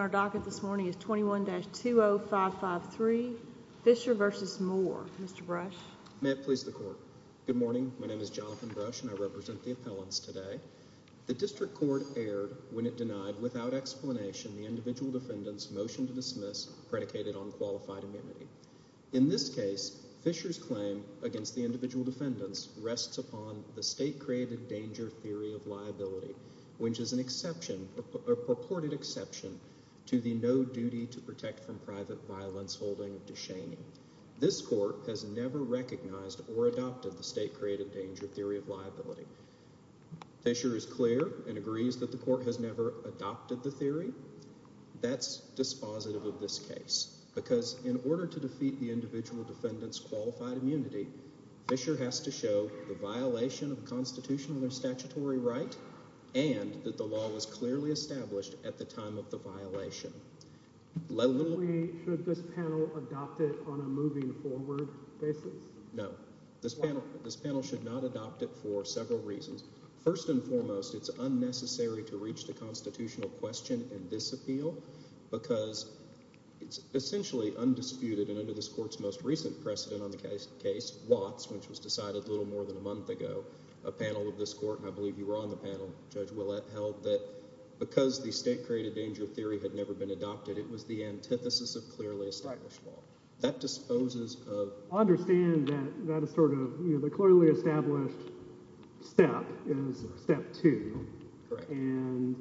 Our docket this morning is 21-20553 Fisher v. Moore. Mr. Brush. May it please the court. Good morning. My name is Jonathan Brush and I represent the appellants today. The district court erred when it denied, without explanation, the individual defendant's motion to dismiss predicated on qualified amenity. In this case, Fisher's claim against the individual defendants rests upon the state-created danger theory of liability, which is a purported exception to the no-duty-to-protect-from-private-violence holding of DeShaney. This court has never recognized or adopted the state-created danger theory of liability. Fisher is clear and agrees that the court has never adopted the theory. That's dispositive of this case because in order to defeat the individual defendant's qualified amenity, Fisher has to show the violation of constitutional or statutory right and that the law was clearly established at the time of the violation. Should this panel adopt it on a moving forward basis? No. This panel should not adopt it for several reasons. First and foremost, it's unnecessary to reach the constitutional question in this appeal because it's essentially undisputed, and under this court's most recent precedent on the case, Watts, which was decided a little more than a month ago, a panel of this court, and I believe you were on the panel, Judge Willett, held that because the state-created danger theory had never been adopted, it was the antithesis of clearly established law. That disposes of – I understand that that is sort of – the clearly established step is step two. Correct. And,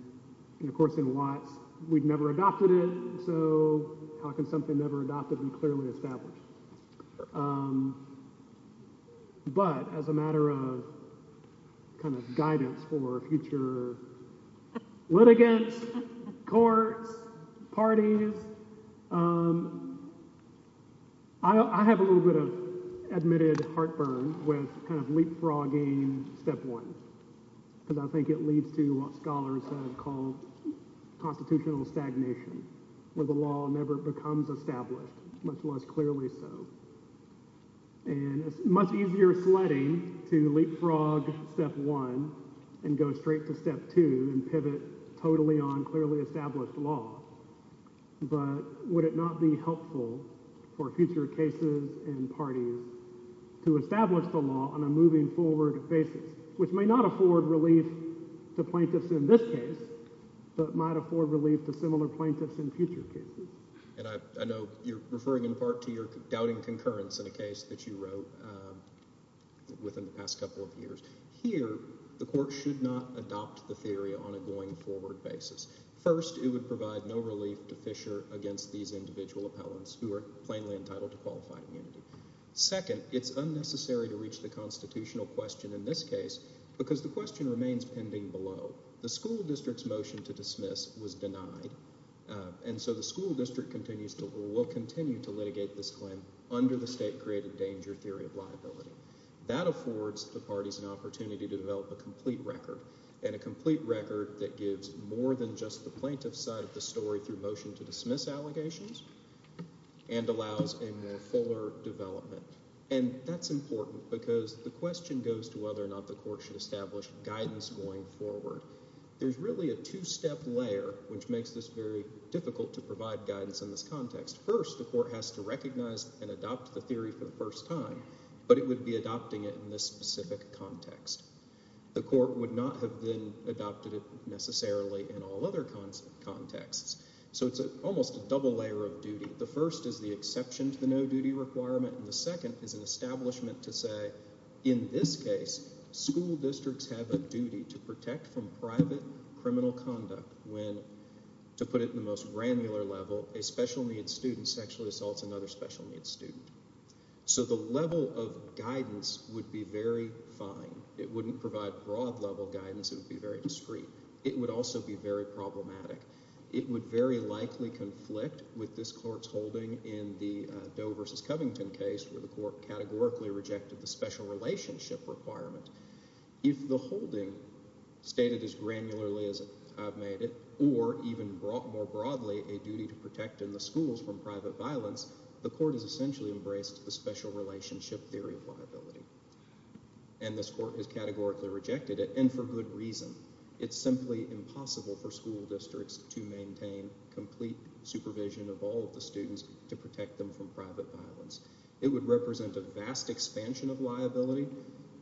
of course, in Watts, we'd never adopted it, so how can something never adopted be clearly established? But as a matter of kind of guidance for future litigants, courts, parties, I have a little bit of admitted heartburn with kind of leapfrogging step one, because I think it leads to what scholars have called constitutional stagnation, where the law never becomes established, much less clearly so. And it's much easier sledding to leapfrog step one and go straight to step two and pivot totally on clearly established law. But would it not be helpful for future cases and parties to establish the law on a moving forward basis, which may not afford relief to plaintiffs in this case, but might afford relief to similar plaintiffs in future cases? And I know you're referring in part to your doubting concurrence in a case that you wrote within the past couple of years. Here the court should not adopt the theory on a going forward basis. First, it would provide no relief to Fisher against these individual appellants who are plainly entitled to qualified immunity. Second, it's unnecessary to reach the constitutional question in this case because the question remains pending below. The school district's motion to dismiss was denied, and so the school district continues to rule, will continue to litigate this claim under the state-created danger theory of liability. That affords the parties an opportunity to develop a complete record, and a complete record that gives more than just the plaintiff's side of the story through motion to dismiss allegations and allows a more fuller development. And that's important because the question goes to whether or not the court should establish guidance going forward. There's really a two-step layer which makes this very difficult to provide guidance in this context. First, the court has to recognize and adopt the theory for the first time, but it would be adopting it in this specific context. The court would not have then adopted it necessarily in all other contexts. So it's almost a double layer of duty. The first is the exception to the no-duty requirement, and the second is an establishment to say, in this case, school districts have a duty to protect from private criminal conduct when, to put it in the most granular level, a special-needs student sexually assaults another special-needs student. So the level of guidance would be very fine. It wouldn't provide broad-level guidance. It would be very discreet. It would also be very problematic. It would very likely conflict with this court's holding in the Doe v. Covington case where the court categorically rejected the special relationship requirement. If the holding, stated as granularly as I've made it, or even more broadly a duty to protect in the schools from private violence, the court has essentially embraced the special relationship theory of liability. And this court has categorically rejected it, and for good reason. It's simply impossible for school districts to maintain complete supervision of all of the students to protect them from private violence. It would represent a vast expansion of liability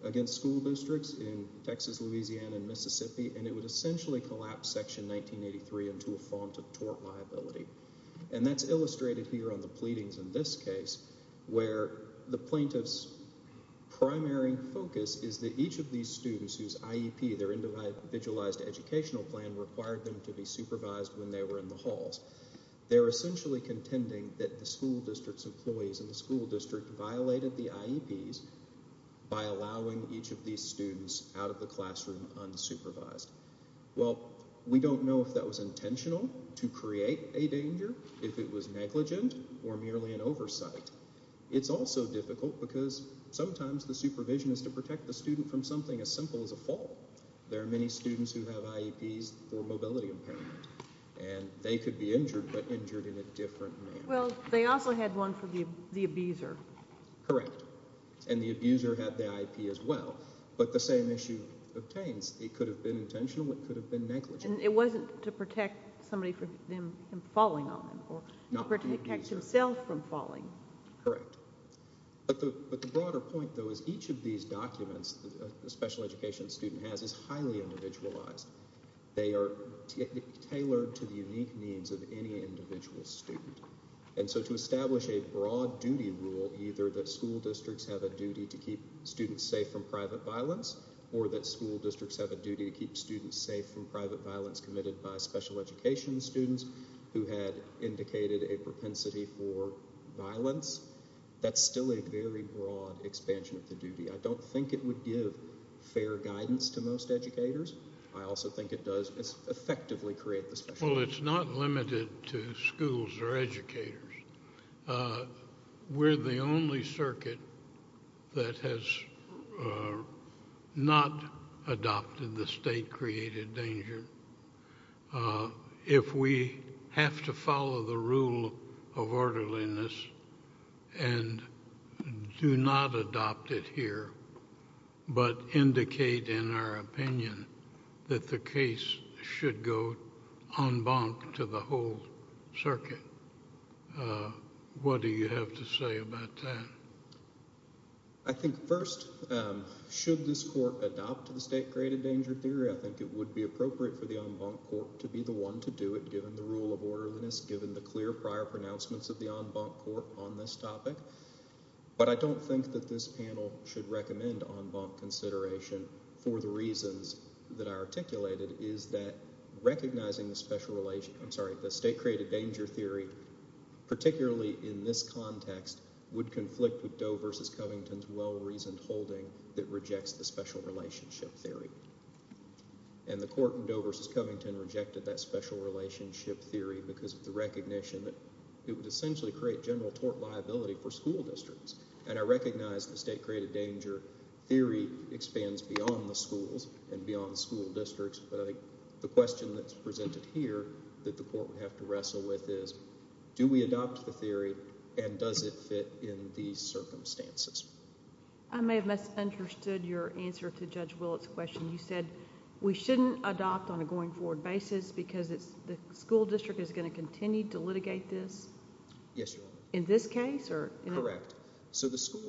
against school districts in Texas, Louisiana, and Mississippi, and it would essentially collapse Section 1983 into a font of tort liability. And that's illustrated here on the pleadings in this case where the plaintiff's primary focus is that each of these students whose IEP, their individualized educational plan, required them to be supervised when they were in the halls. They're essentially contending that the school district's employees in the school district violated the IEPs by allowing each of these students out of the classroom unsupervised. Well, we don't know if that was intentional to create a danger, if it was negligent, or merely an oversight. It's also difficult because sometimes the supervision is to protect the student from something as simple as a fall. There are many students who have IEPs for mobility impairment, and they could be injured, but injured in a different manner. Well, they also had one for the abuser. Correct. And the abuser had the IEP as well. But the same issue obtains. It could have been intentional. It could have been negligent. And it wasn't to protect somebody from falling on them or to protect himself from falling. Correct. But the broader point, though, is each of these documents a special education student has is highly individualized. They are tailored to the unique needs of any individual student. And so to establish a broad duty rule, either that school districts have a duty to keep students safe from private violence or that school districts have a duty to keep students safe from private violence committed by special education students who had indicated a propensity for violence, that's still a very broad expansion of the duty. I don't think it would give fair guidance to most educators. I also think it does effectively create the special— Well, it's not limited to schools or educators. We're the only circuit that has not adopted the state-created danger. If we have to follow the rule of orderliness and do not adopt it here, but indicate in our opinion that the case should go en banc to the whole circuit, what do you have to say about that? I think first, should this court adopt the state-created danger theory, I think it would be appropriate for the en banc court to be the one to do it given the rule of orderliness, given the clear prior pronouncements of the en banc court on this topic. But I don't think that this panel should recommend en banc consideration for the reasons that I articulated, is that recognizing the state-created danger theory, particularly in this context, would conflict with Doe v. Covington's well-reasoned holding that rejects the special relationship theory. And the court in Doe v. Covington rejected that special relationship theory because of the recognition that it would essentially create general tort liability for school districts. And I recognize the state-created danger theory expands beyond the schools and beyond school districts, but I think the question that's presented here that the court would have to wrestle with is, do we adopt the theory and does it fit in these circumstances? I may have misunderstood your answer to Judge Willett's question. You said we shouldn't adopt on a going-forward basis because the school district is going to continue to litigate this? Yes, Your Honor. In this case? Correct.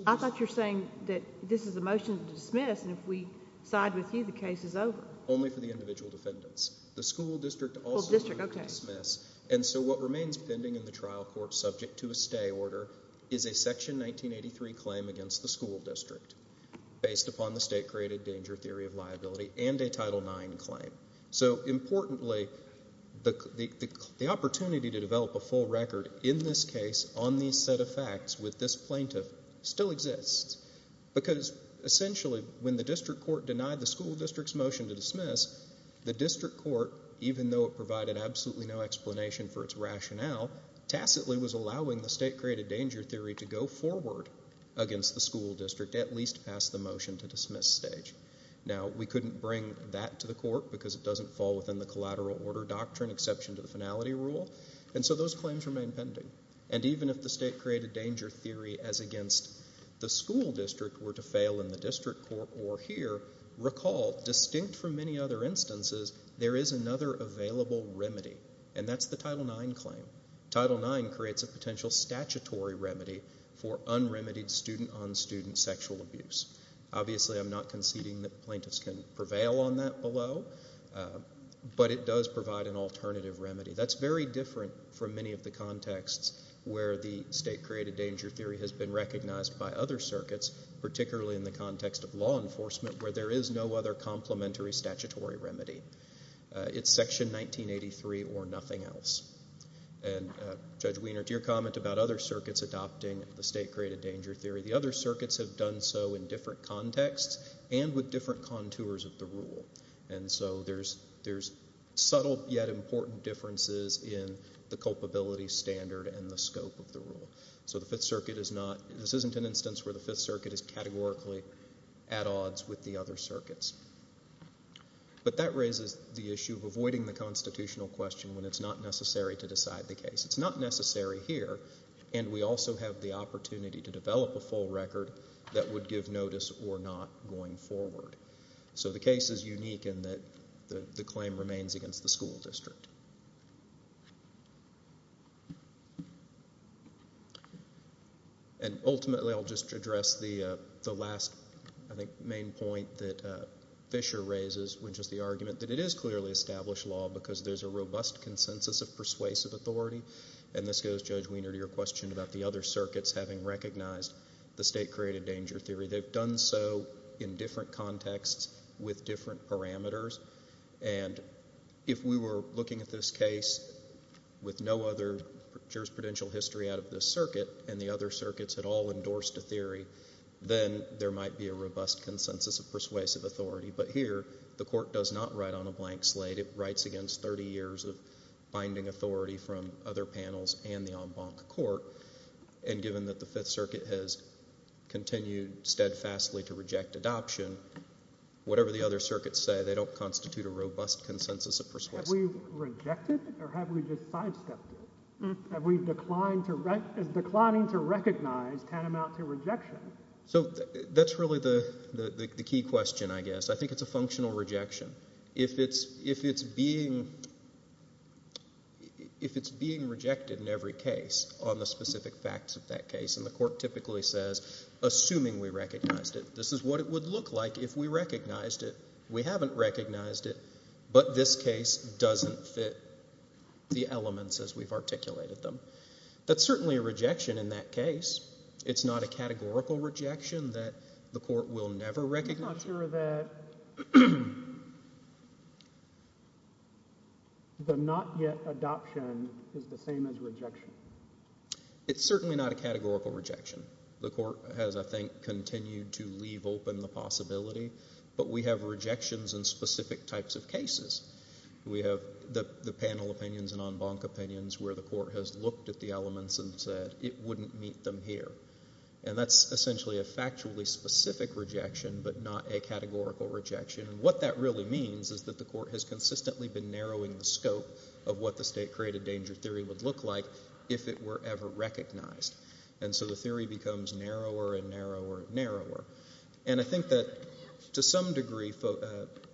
I thought you were saying that this is a motion to dismiss, and if we side with you, the case is over. Only for the individual defendants. The school district also moved to dismiss. And so what remains pending in the trial court subject to a stay order is a Section 1983 claim against the school district based upon the state-created danger theory of liability and a Title IX claim. So importantly, the opportunity to develop a full record in this case on these set of facts with this plaintiff still exists because essentially when the district court denied the school district's motion to dismiss, the district court, even though it provided absolutely no explanation for its rationale, tacitly was allowing the state-created danger theory to go forward against the school district, at least past the motion to dismiss stage. Now, we couldn't bring that to the court because it doesn't fall within the collateral order doctrine, exception to the finality rule, and so those claims remain pending. And even if the state-created danger theory as against the school district were to fail in the district court or here, recall, distinct from many other instances, there is another available remedy, and that's the Title IX claim. Title IX creates a potential statutory remedy for unremitied student-on-student sexual abuse. Obviously, I'm not conceding that plaintiffs can prevail on that below, but it does provide an alternative remedy. That's very different from many of the contexts where the state-created danger theory has been recognized by other circuits, particularly in the context of law enforcement, where there is no other complementary statutory remedy. It's Section 1983 or nothing else. And, Judge Wiener, to your comment about other circuits adopting the state-created danger theory, the other circuits have done so in different contexts and with different contours of the rule, and so there's subtle yet important differences in the culpability standard and the scope of the rule. So the Fifth Circuit is not – this isn't an instance where the Fifth Circuit is categorically at odds with the other circuits. But that raises the issue of avoiding the constitutional question when it's not necessary to decide the case. It's not necessary here, and we also have the opportunity to develop a full record that would give notice or not going forward. So the case is unique in that the claim remains against the school district. And ultimately I'll just address the last, I think, main point that Fisher raises, which is the argument that it is clearly established law because there's a robust consensus of persuasive authority, and this goes, Judge Wiener, to your question about the other circuits having recognized the state-created danger theory. They've done so in different contexts with different parameters. And if we were looking at this case with no other jurisprudential history out of this circuit and the other circuits had all endorsed a theory, then there might be a robust consensus of persuasive authority. But here the court does not write on a blank slate. It writes against 30 years of binding authority from other panels and the en banc court. And given that the Fifth Circuit has continued steadfastly to reject adoption, whatever the other circuits say, they don't constitute a robust consensus of persuasive authority. Have we rejected or have we just sidestepped it? Have we declined to recognize tantamount to rejection? So that's really the key question, I guess. I think it's a functional rejection. If it's being rejected in every case on the specific facts of that case and the court typically says, assuming we recognized it, this is what it would look like if we recognized it, we haven't recognized it, but this case doesn't fit the elements as we've articulated them, that's certainly a rejection in that case. It's not a categorical rejection that the court will never recognize. So you're not sure that the not yet adoption is the same as rejection? It's certainly not a categorical rejection. The court has, I think, continued to leave open the possibility, but we have rejections in specific types of cases. We have the panel opinions and en banc opinions where the court has looked at the elements and said it wouldn't meet them here. And that's essentially a factually specific rejection but not a categorical rejection. And what that really means is that the court has consistently been narrowing the scope of what the state-created danger theory would look like if it were ever recognized. And so the theory becomes narrower and narrower and narrower. And I think that to some degree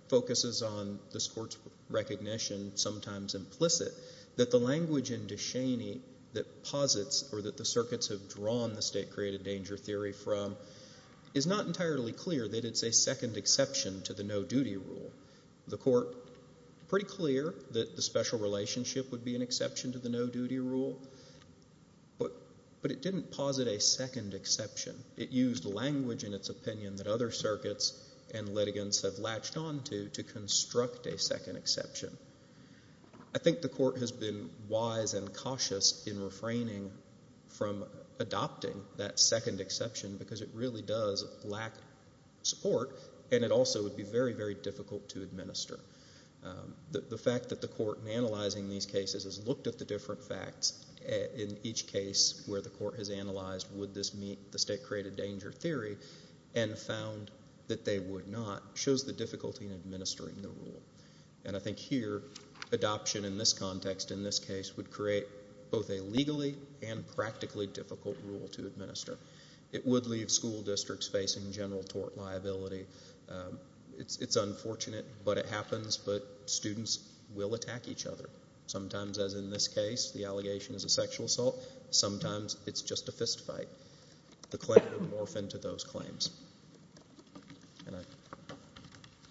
focuses on this court's recognition, sometimes implicit, that the language in Descheny that posits or that the circuits have drawn the state-created danger theory from is not entirely clear that it's a second exception to the no-duty rule. The court, pretty clear that the special relationship would be an exception to the no-duty rule, but it didn't posit a second exception. It used language in its opinion that other circuits and litigants have latched onto to construct a second exception. I think the court has been wise and cautious in refraining from adopting that second exception because it really does lack support, and it also would be very, very difficult to administer. The fact that the court in analyzing these cases has looked at the different facts in each case where the court has analyzed would this meet the state-created danger theory and found that they would not shows the difficulty in administering the rule. And I think here adoption in this context, in this case, would create both a legally and practically difficult rule to administer. It would leave school districts facing general tort liability. It's unfortunate, but it happens, but students will attack each other. Sometimes, as in this case, the allegation is a sexual assault. Sometimes it's just a fist fight. The claim would morph into those claims.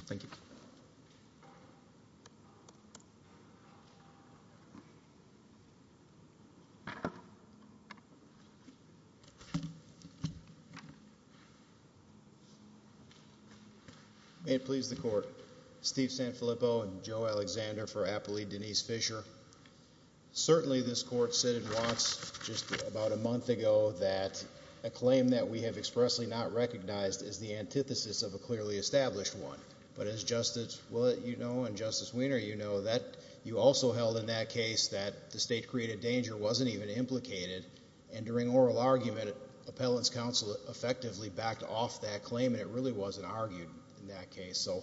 Thank you. May it please the court. Steve Sanfilippo and Joe Alexander for Appellee Denise Fisher. Certainly this court said it once, just about a month ago, that a claim that we have expressly not recognized is the antithesis of a clearly established one. But as Justice Willett, you know, and Justice Weiner, you know, that you also held in that case that the state-created danger wasn't even implicated, and during oral argument, appellant's counsel effectively backed off that claim, and it really wasn't argued in that case. So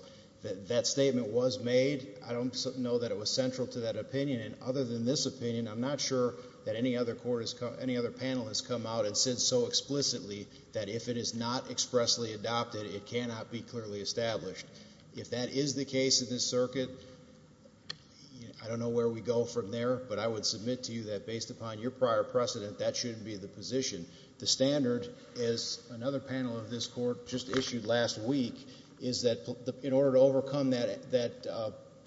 that statement was made. I don't know that it was central to that opinion, and other than this opinion, I'm not sure that any other panel has come out and said so explicitly that if it is not expressly adopted, it cannot be clearly established. If that is the case in this circuit, I don't know where we go from there, but I would submit to you that based upon your prior precedent, that shouldn't be the position. The standard is, another panel of this court just issued last week, is that in order to overcome that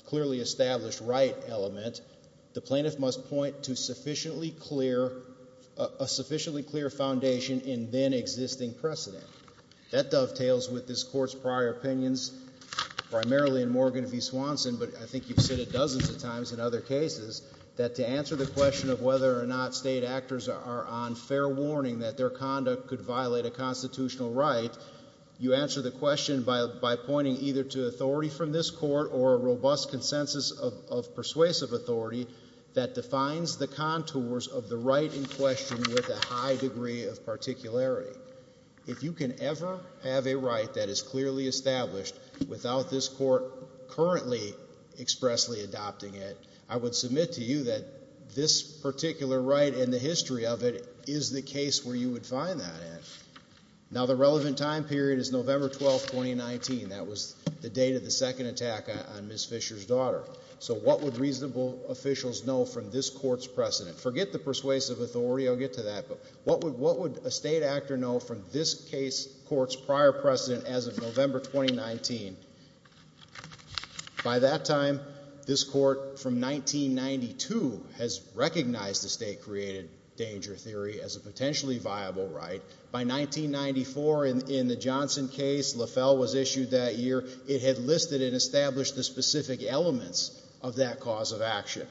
clearly established right element, the plaintiff must point to a sufficiently clear foundation in then existing precedent. That dovetails with this court's prior opinions, primarily in Morgan v. Swanson, but I think you've said it dozens of times in other cases, that to answer the question of whether or not state actors are on fair warning that their conduct could violate a constitutional right, you answer the question by pointing either to authority from this court or a robust consensus of persuasive authority that defines the contours of the right in question with a high degree of particularity. If you can ever have a right that is clearly established without this court currently expressly adopting it, I would submit to you that this particular right and the history of it is the case where you would find that at. Now the relevant time period is November 12th, 2019. That was the date of the second attack on Ms. Fisher's daughter. So what would reasonable officials know from this court's precedent? Forget the persuasive authority, I'll get to that, but what would a state actor know from this court's prior precedent as of November 2019? By that time, this court from 1992 has recognized the state-created danger theory as a potentially viable right. By 1994 in the Johnson case, LaFell was issued that year, it had listed and established the specific elements of that cause of action.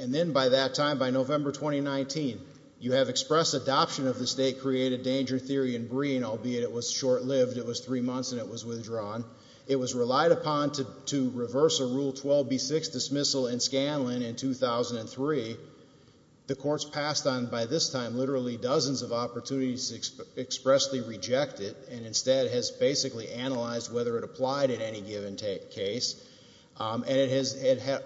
And then by that time, by November 2019, you have expressed adoption of the state-created danger theory in Breen, albeit it was short-lived, it was three months and it was withdrawn. It was relied upon to reverse a Rule 12b6 dismissal in Scanlon in 2003. The court's passed on, by this time, literally dozens of opportunities to expressly reject it and instead has basically analyzed whether it applied in any given case. And it has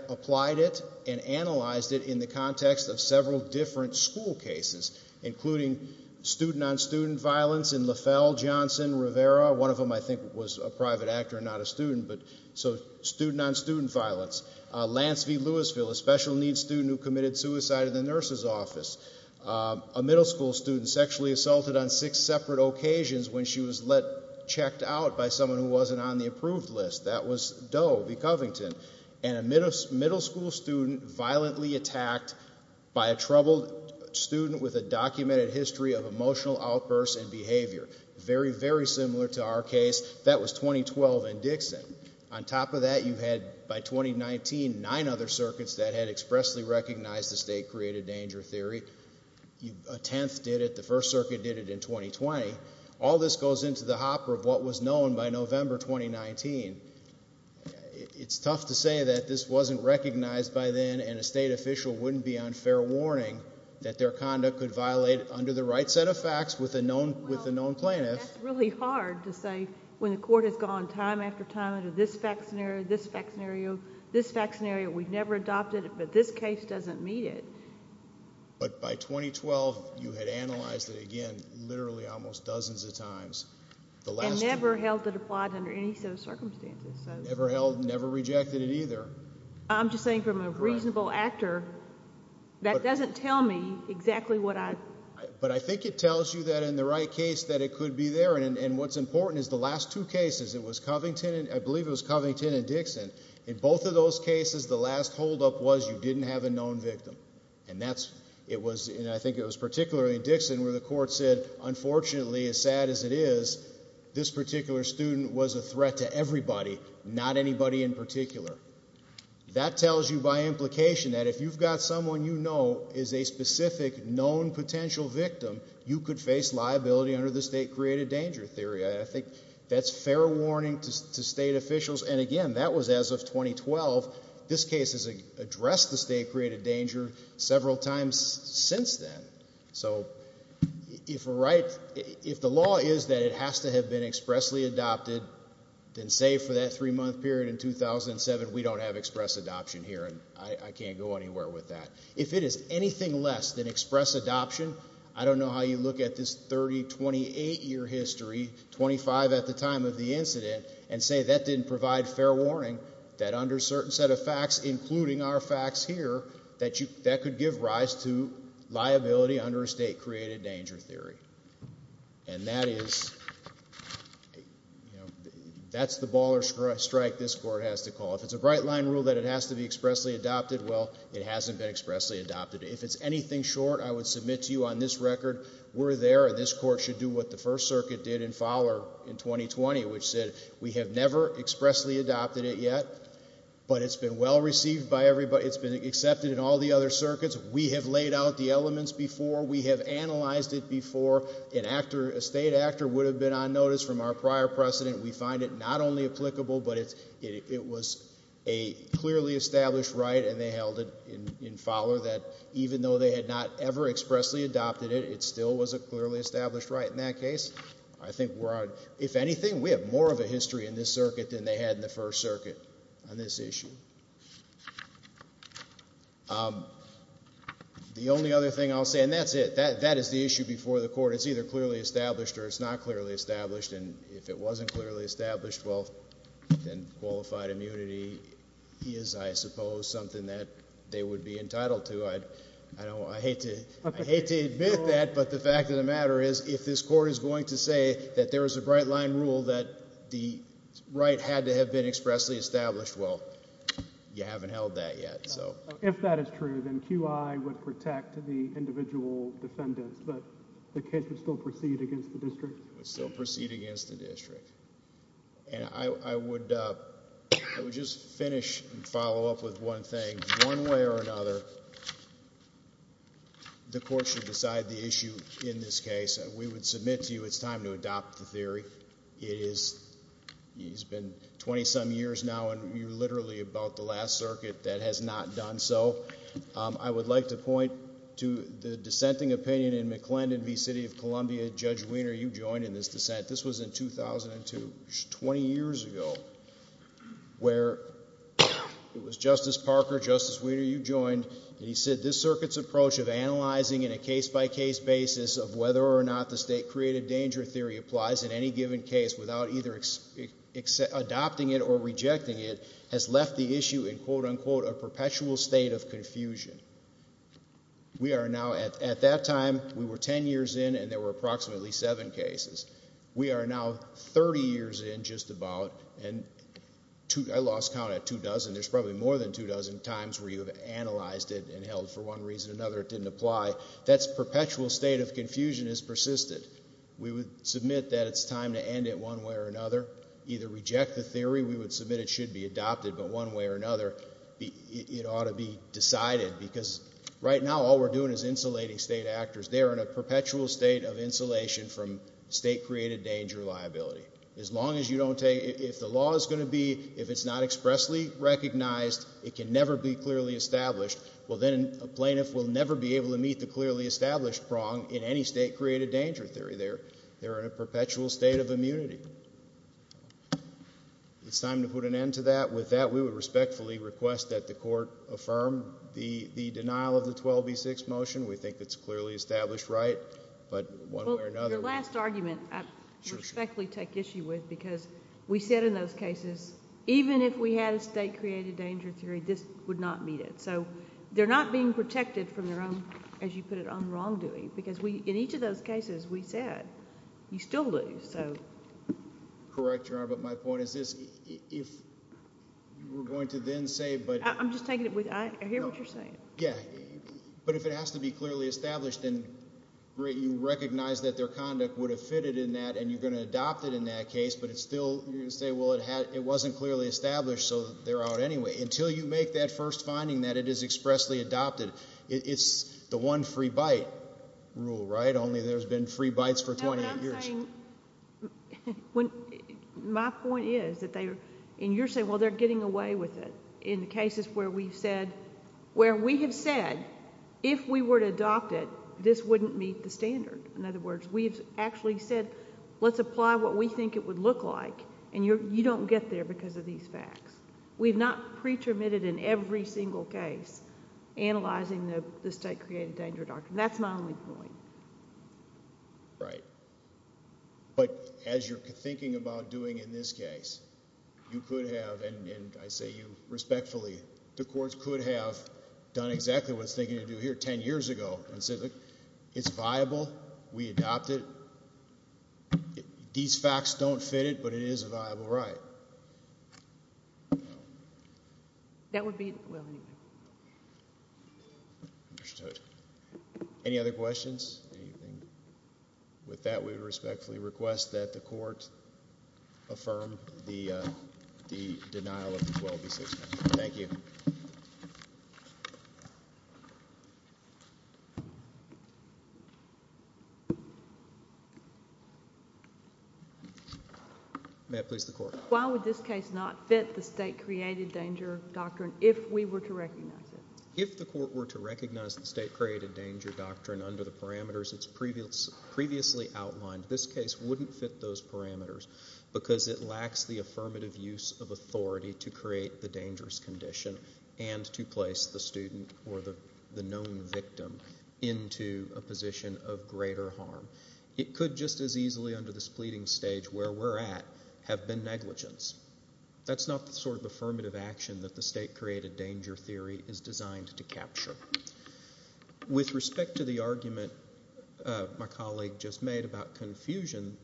applied it and analyzed it in the context of several different school cases, including student-on-student violence in LaFell, Johnson, Rivera, one of them I think was a private actor and not a student, but so student-on-student violence. Lance V. Louisville, a special needs student who committed suicide in the nurse's office. A middle school student sexually assaulted on six separate occasions when she was checked out by someone who wasn't on the approved list. That was Doe V. Covington. And a middle school student violently attacked by a troubled student with a documented history of emotional outbursts and behavior. Very, very similar to our case, that was 2012 in Dixon. On top of that, you had by 2019 nine other circuits that had expressly recognized the state created danger theory. A tenth did it. The First Circuit did it in 2020. All this goes into the hopper of what was known by November 2019. It's tough to say that this wasn't recognized by then and a state official wouldn't be on fair warning that their conduct could violate it under the right set of facts with a known plaintiff. That's really hard to say when the court has gone time after time under this fact scenario, this fact scenario, this fact scenario, we've never adopted it, but this case doesn't meet it. But by 2012, you had analyzed it again literally almost dozens of times. And never held it applied under any set of circumstances. Never held, never rejected it either. I'm just saying from a reasonable actor, that doesn't tell me exactly what I... But I think it tells you that in the right case that it could be there. And what's important is the last two cases, it was Covington, I believe it was Covington and Dixon. In both of those cases, the last holdup was you didn't have a known victim. And that's, it was, and I think it was particularly in Dixon where the court said, unfortunately, as sad as it is, this particular student was a threat to everybody, not anybody in particular. That tells you by implication that if you've got someone you know is a specific known potential victim, you could face liability under the state created danger theory. I think that's fair warning to state officials. And again, that was as of 2012. This case has addressed the state created danger several times since then. So if we're right, if the law is that it has to have been expressly adopted, then save for that three-month period in 2007, we don't have express adoption here. And I can't go anywhere with that. If it is anything less than express adoption, I don't know how you look at this 30, 28-year history, 25 at the time of the incident, and say that didn't provide fair warning, that under a certain set of facts, including our facts here, that could give rise to liability under a state created danger theory. And that is the ball or strike this Court has to call. If it's a bright-line rule that it has to be expressly adopted, well, it hasn't been expressly adopted. If it's anything short, I would submit to you on this record we're there, and this Court should do what the First Circuit did in Fowler in 2020, which said we have never expressly adopted it yet, but it's been well-received by everybody. It's been accepted in all the other circuits. We have laid out the elements before. We have analyzed it before. An actor, a state actor would have been on notice from our prior precedent. We find it not only applicable, but it was a clearly established right, and they held it in Fowler that even though they had not ever expressly adopted it, it still was a clearly established right in that case. I think we're on. If anything, we have more of a history in this circuit than they had in the First Circuit on this issue. The only other thing I'll say, and that's it, that is the issue before the Court. It's either clearly established or it's not clearly established, and if it wasn't clearly established, well, then qualified immunity is, I suppose, something that they would be entitled to. I hate to admit that, but the fact of the matter is if this Court is going to say that there is a bright-line rule that the right had to have been expressly established, well, you haven't held that yet. If that is true, then QI would protect the individual defendants, but the case would still proceed against the district? It would still proceed against the district. And I would just finish and follow up with one thing. One way or another, the Court should decide the issue in this case. We would submit to you it's time to adopt the theory. It has been 20-some years now, and you're literally about the last circuit that has not done so. I would like to point to the dissenting opinion in McClendon v. City of Columbia. Judge Wiener, you joined in this dissent. This was in 2002, 20 years ago, where it was Justice Parker, Justice Wiener, you joined, and he said this circuit's approach of analyzing in a case-by-case basis of whether or not the state-created danger theory applies in any given case without either adopting it or rejecting it has left the issue in, quote-unquote, a perpetual state of confusion. At that time, we were 10 years in, and there were approximately seven cases. We are now 30 years in, just about, and I lost count at two dozen. There's probably more than two dozen times where you have analyzed it and held for one reason or another it didn't apply. That perpetual state of confusion has persisted. We would submit that it's time to end it one way or another, either reject the theory. We would submit it should be adopted, but one way or another it ought to be decided because right now all we're doing is insulating state actors. They are in a perpetual state of insulation from state-created danger liability. As long as you don't take it, if the law is going to be, if it's not expressly recognized, it can never be clearly established. Well, then a plaintiff will never be able to meet the clearly established prong in any state-created danger theory. They're in a perpetual state of immunity. It's time to put an end to that. With that, we would respectfully request that the Court affirm the denial of the 12B6 motion. We think it's clearly established right, but one way or another. The last argument I respectfully take issue with because we said in those cases even if we had a state-created danger theory, this would not meet it. So they're not being protected from their own, as you put it, wrongdoing because in each of those cases we said you still lose. Correct, Your Honor, but my point is this. If you were going to then say but... I'm just taking it with... I hear what you're saying. Yeah, but if it has to be clearly established, then you recognize that their conduct would have fitted in that and you're going to adopt it in that case, but it's still... you're going to say, well, it wasn't clearly established, so they're out anyway. Until you make that first finding that it is expressly adopted, it's the one free bite rule, right? Only there's been free bites for 28 years. No, but I'm saying... my point is that they're... and you're saying, well, they're getting away with it. In the cases where we've said... where we have said if we were to adopt it, this wouldn't meet the standard. In other words, we've actually said let's apply what we think it would look like and you don't get there because of these facts. We've not pre-termitted in every single case analyzing the state-created danger doctrine. That's my only point. Right, but as you're thinking about doing in this case, you could have... respectfully, the courts could have done exactly what's they're going to do here 10 years ago and said, look, it's viable. We adopt it. These facts don't fit it, but it is a viable right. That would be... well, anyway. Understood. Any other questions? With that, we respectfully request that the court affirm the denial of the 12B6 amendment. Thank you. May I please have the court? Why would this case not fit the state-created danger doctrine if we were to recognize it? It's previously outlined. This case wouldn't fit those parameters because it lacks the affirmative use of authority to create the dangerous condition and to place the student or the known victim into a position of greater harm. It could just as easily under this pleading stage where we're at have been negligence. That's not the sort of affirmative action that the state-created danger theory is designed to capture. With respect to the argument my colleague just made about confusion,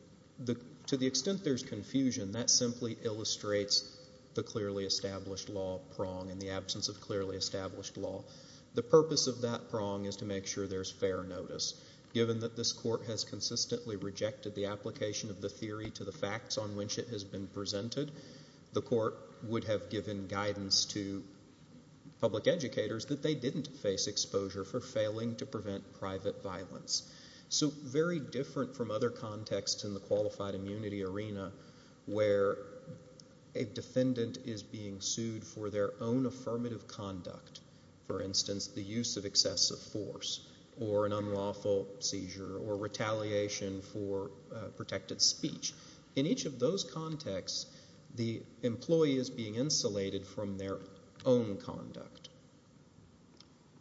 to the extent there's confusion, that simply illustrates the clearly established law prong and the absence of clearly established law. The purpose of that prong is to make sure there's fair notice. Given that this court has consistently rejected the application of the theory to the facts on which it has been presented, the court would have given guidance to public educators that they didn't face exposure for failing to prevent private violence. So very different from other contexts in the qualified immunity arena where a defendant is being sued for their own affirmative conduct. For instance, the use of excessive force or an unlawful seizure or retaliation for protected speech. In each of those contexts, the employee is being insulated from their own conduct.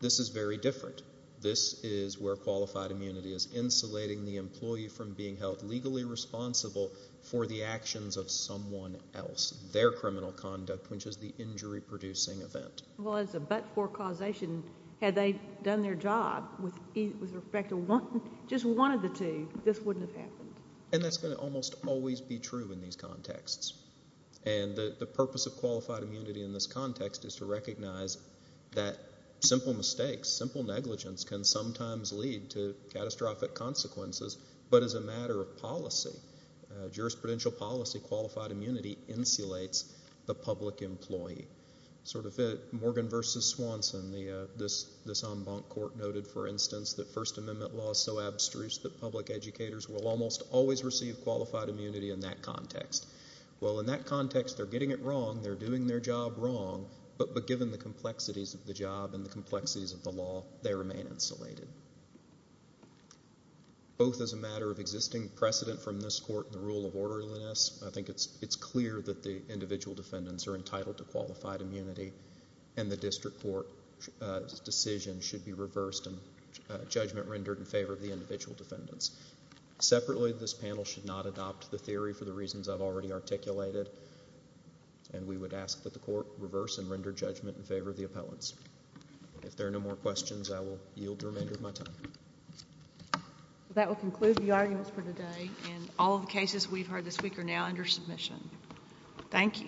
This is very different. This is where qualified immunity is insulating the employee from being held legally responsible for the actions of someone else, their criminal conduct, which is the injury-producing event. Well, as a but-for causation, had they done their job with respect to just one of the two, this wouldn't have happened. And that's going to almost always be true in these contexts. And the purpose of qualified immunity in this context is to recognize that simple mistakes, simple negligence can sometimes lead to catastrophic consequences, but as a matter of policy, jurisprudential policy, qualified immunity insulates the public employee. Sort of Morgan v. Swanson, this en banc court noted, for instance, that First Amendment law is so abstruse that public educators will almost always receive qualified immunity in that context. Well, in that context, they're getting it wrong, they're doing their job wrong, but given the complexities of the job and the complexities of the law, they remain insulated. Both as a matter of existing precedent from this court and the rule of orderliness, I think it's clear that the individual defendants are entitled to qualified immunity and the district court's decision should be reversed and judgment rendered in favor of the individual defendants. Separately, this panel should not adopt the theory for the reasons I've already articulated, and we would ask that the court reverse and render judgment in favor of the appellants. If there are no more questions, I will yield the remainder of my time. That will conclude the arguments for today, and all of the cases we've heard this week are now under submission. Thank you.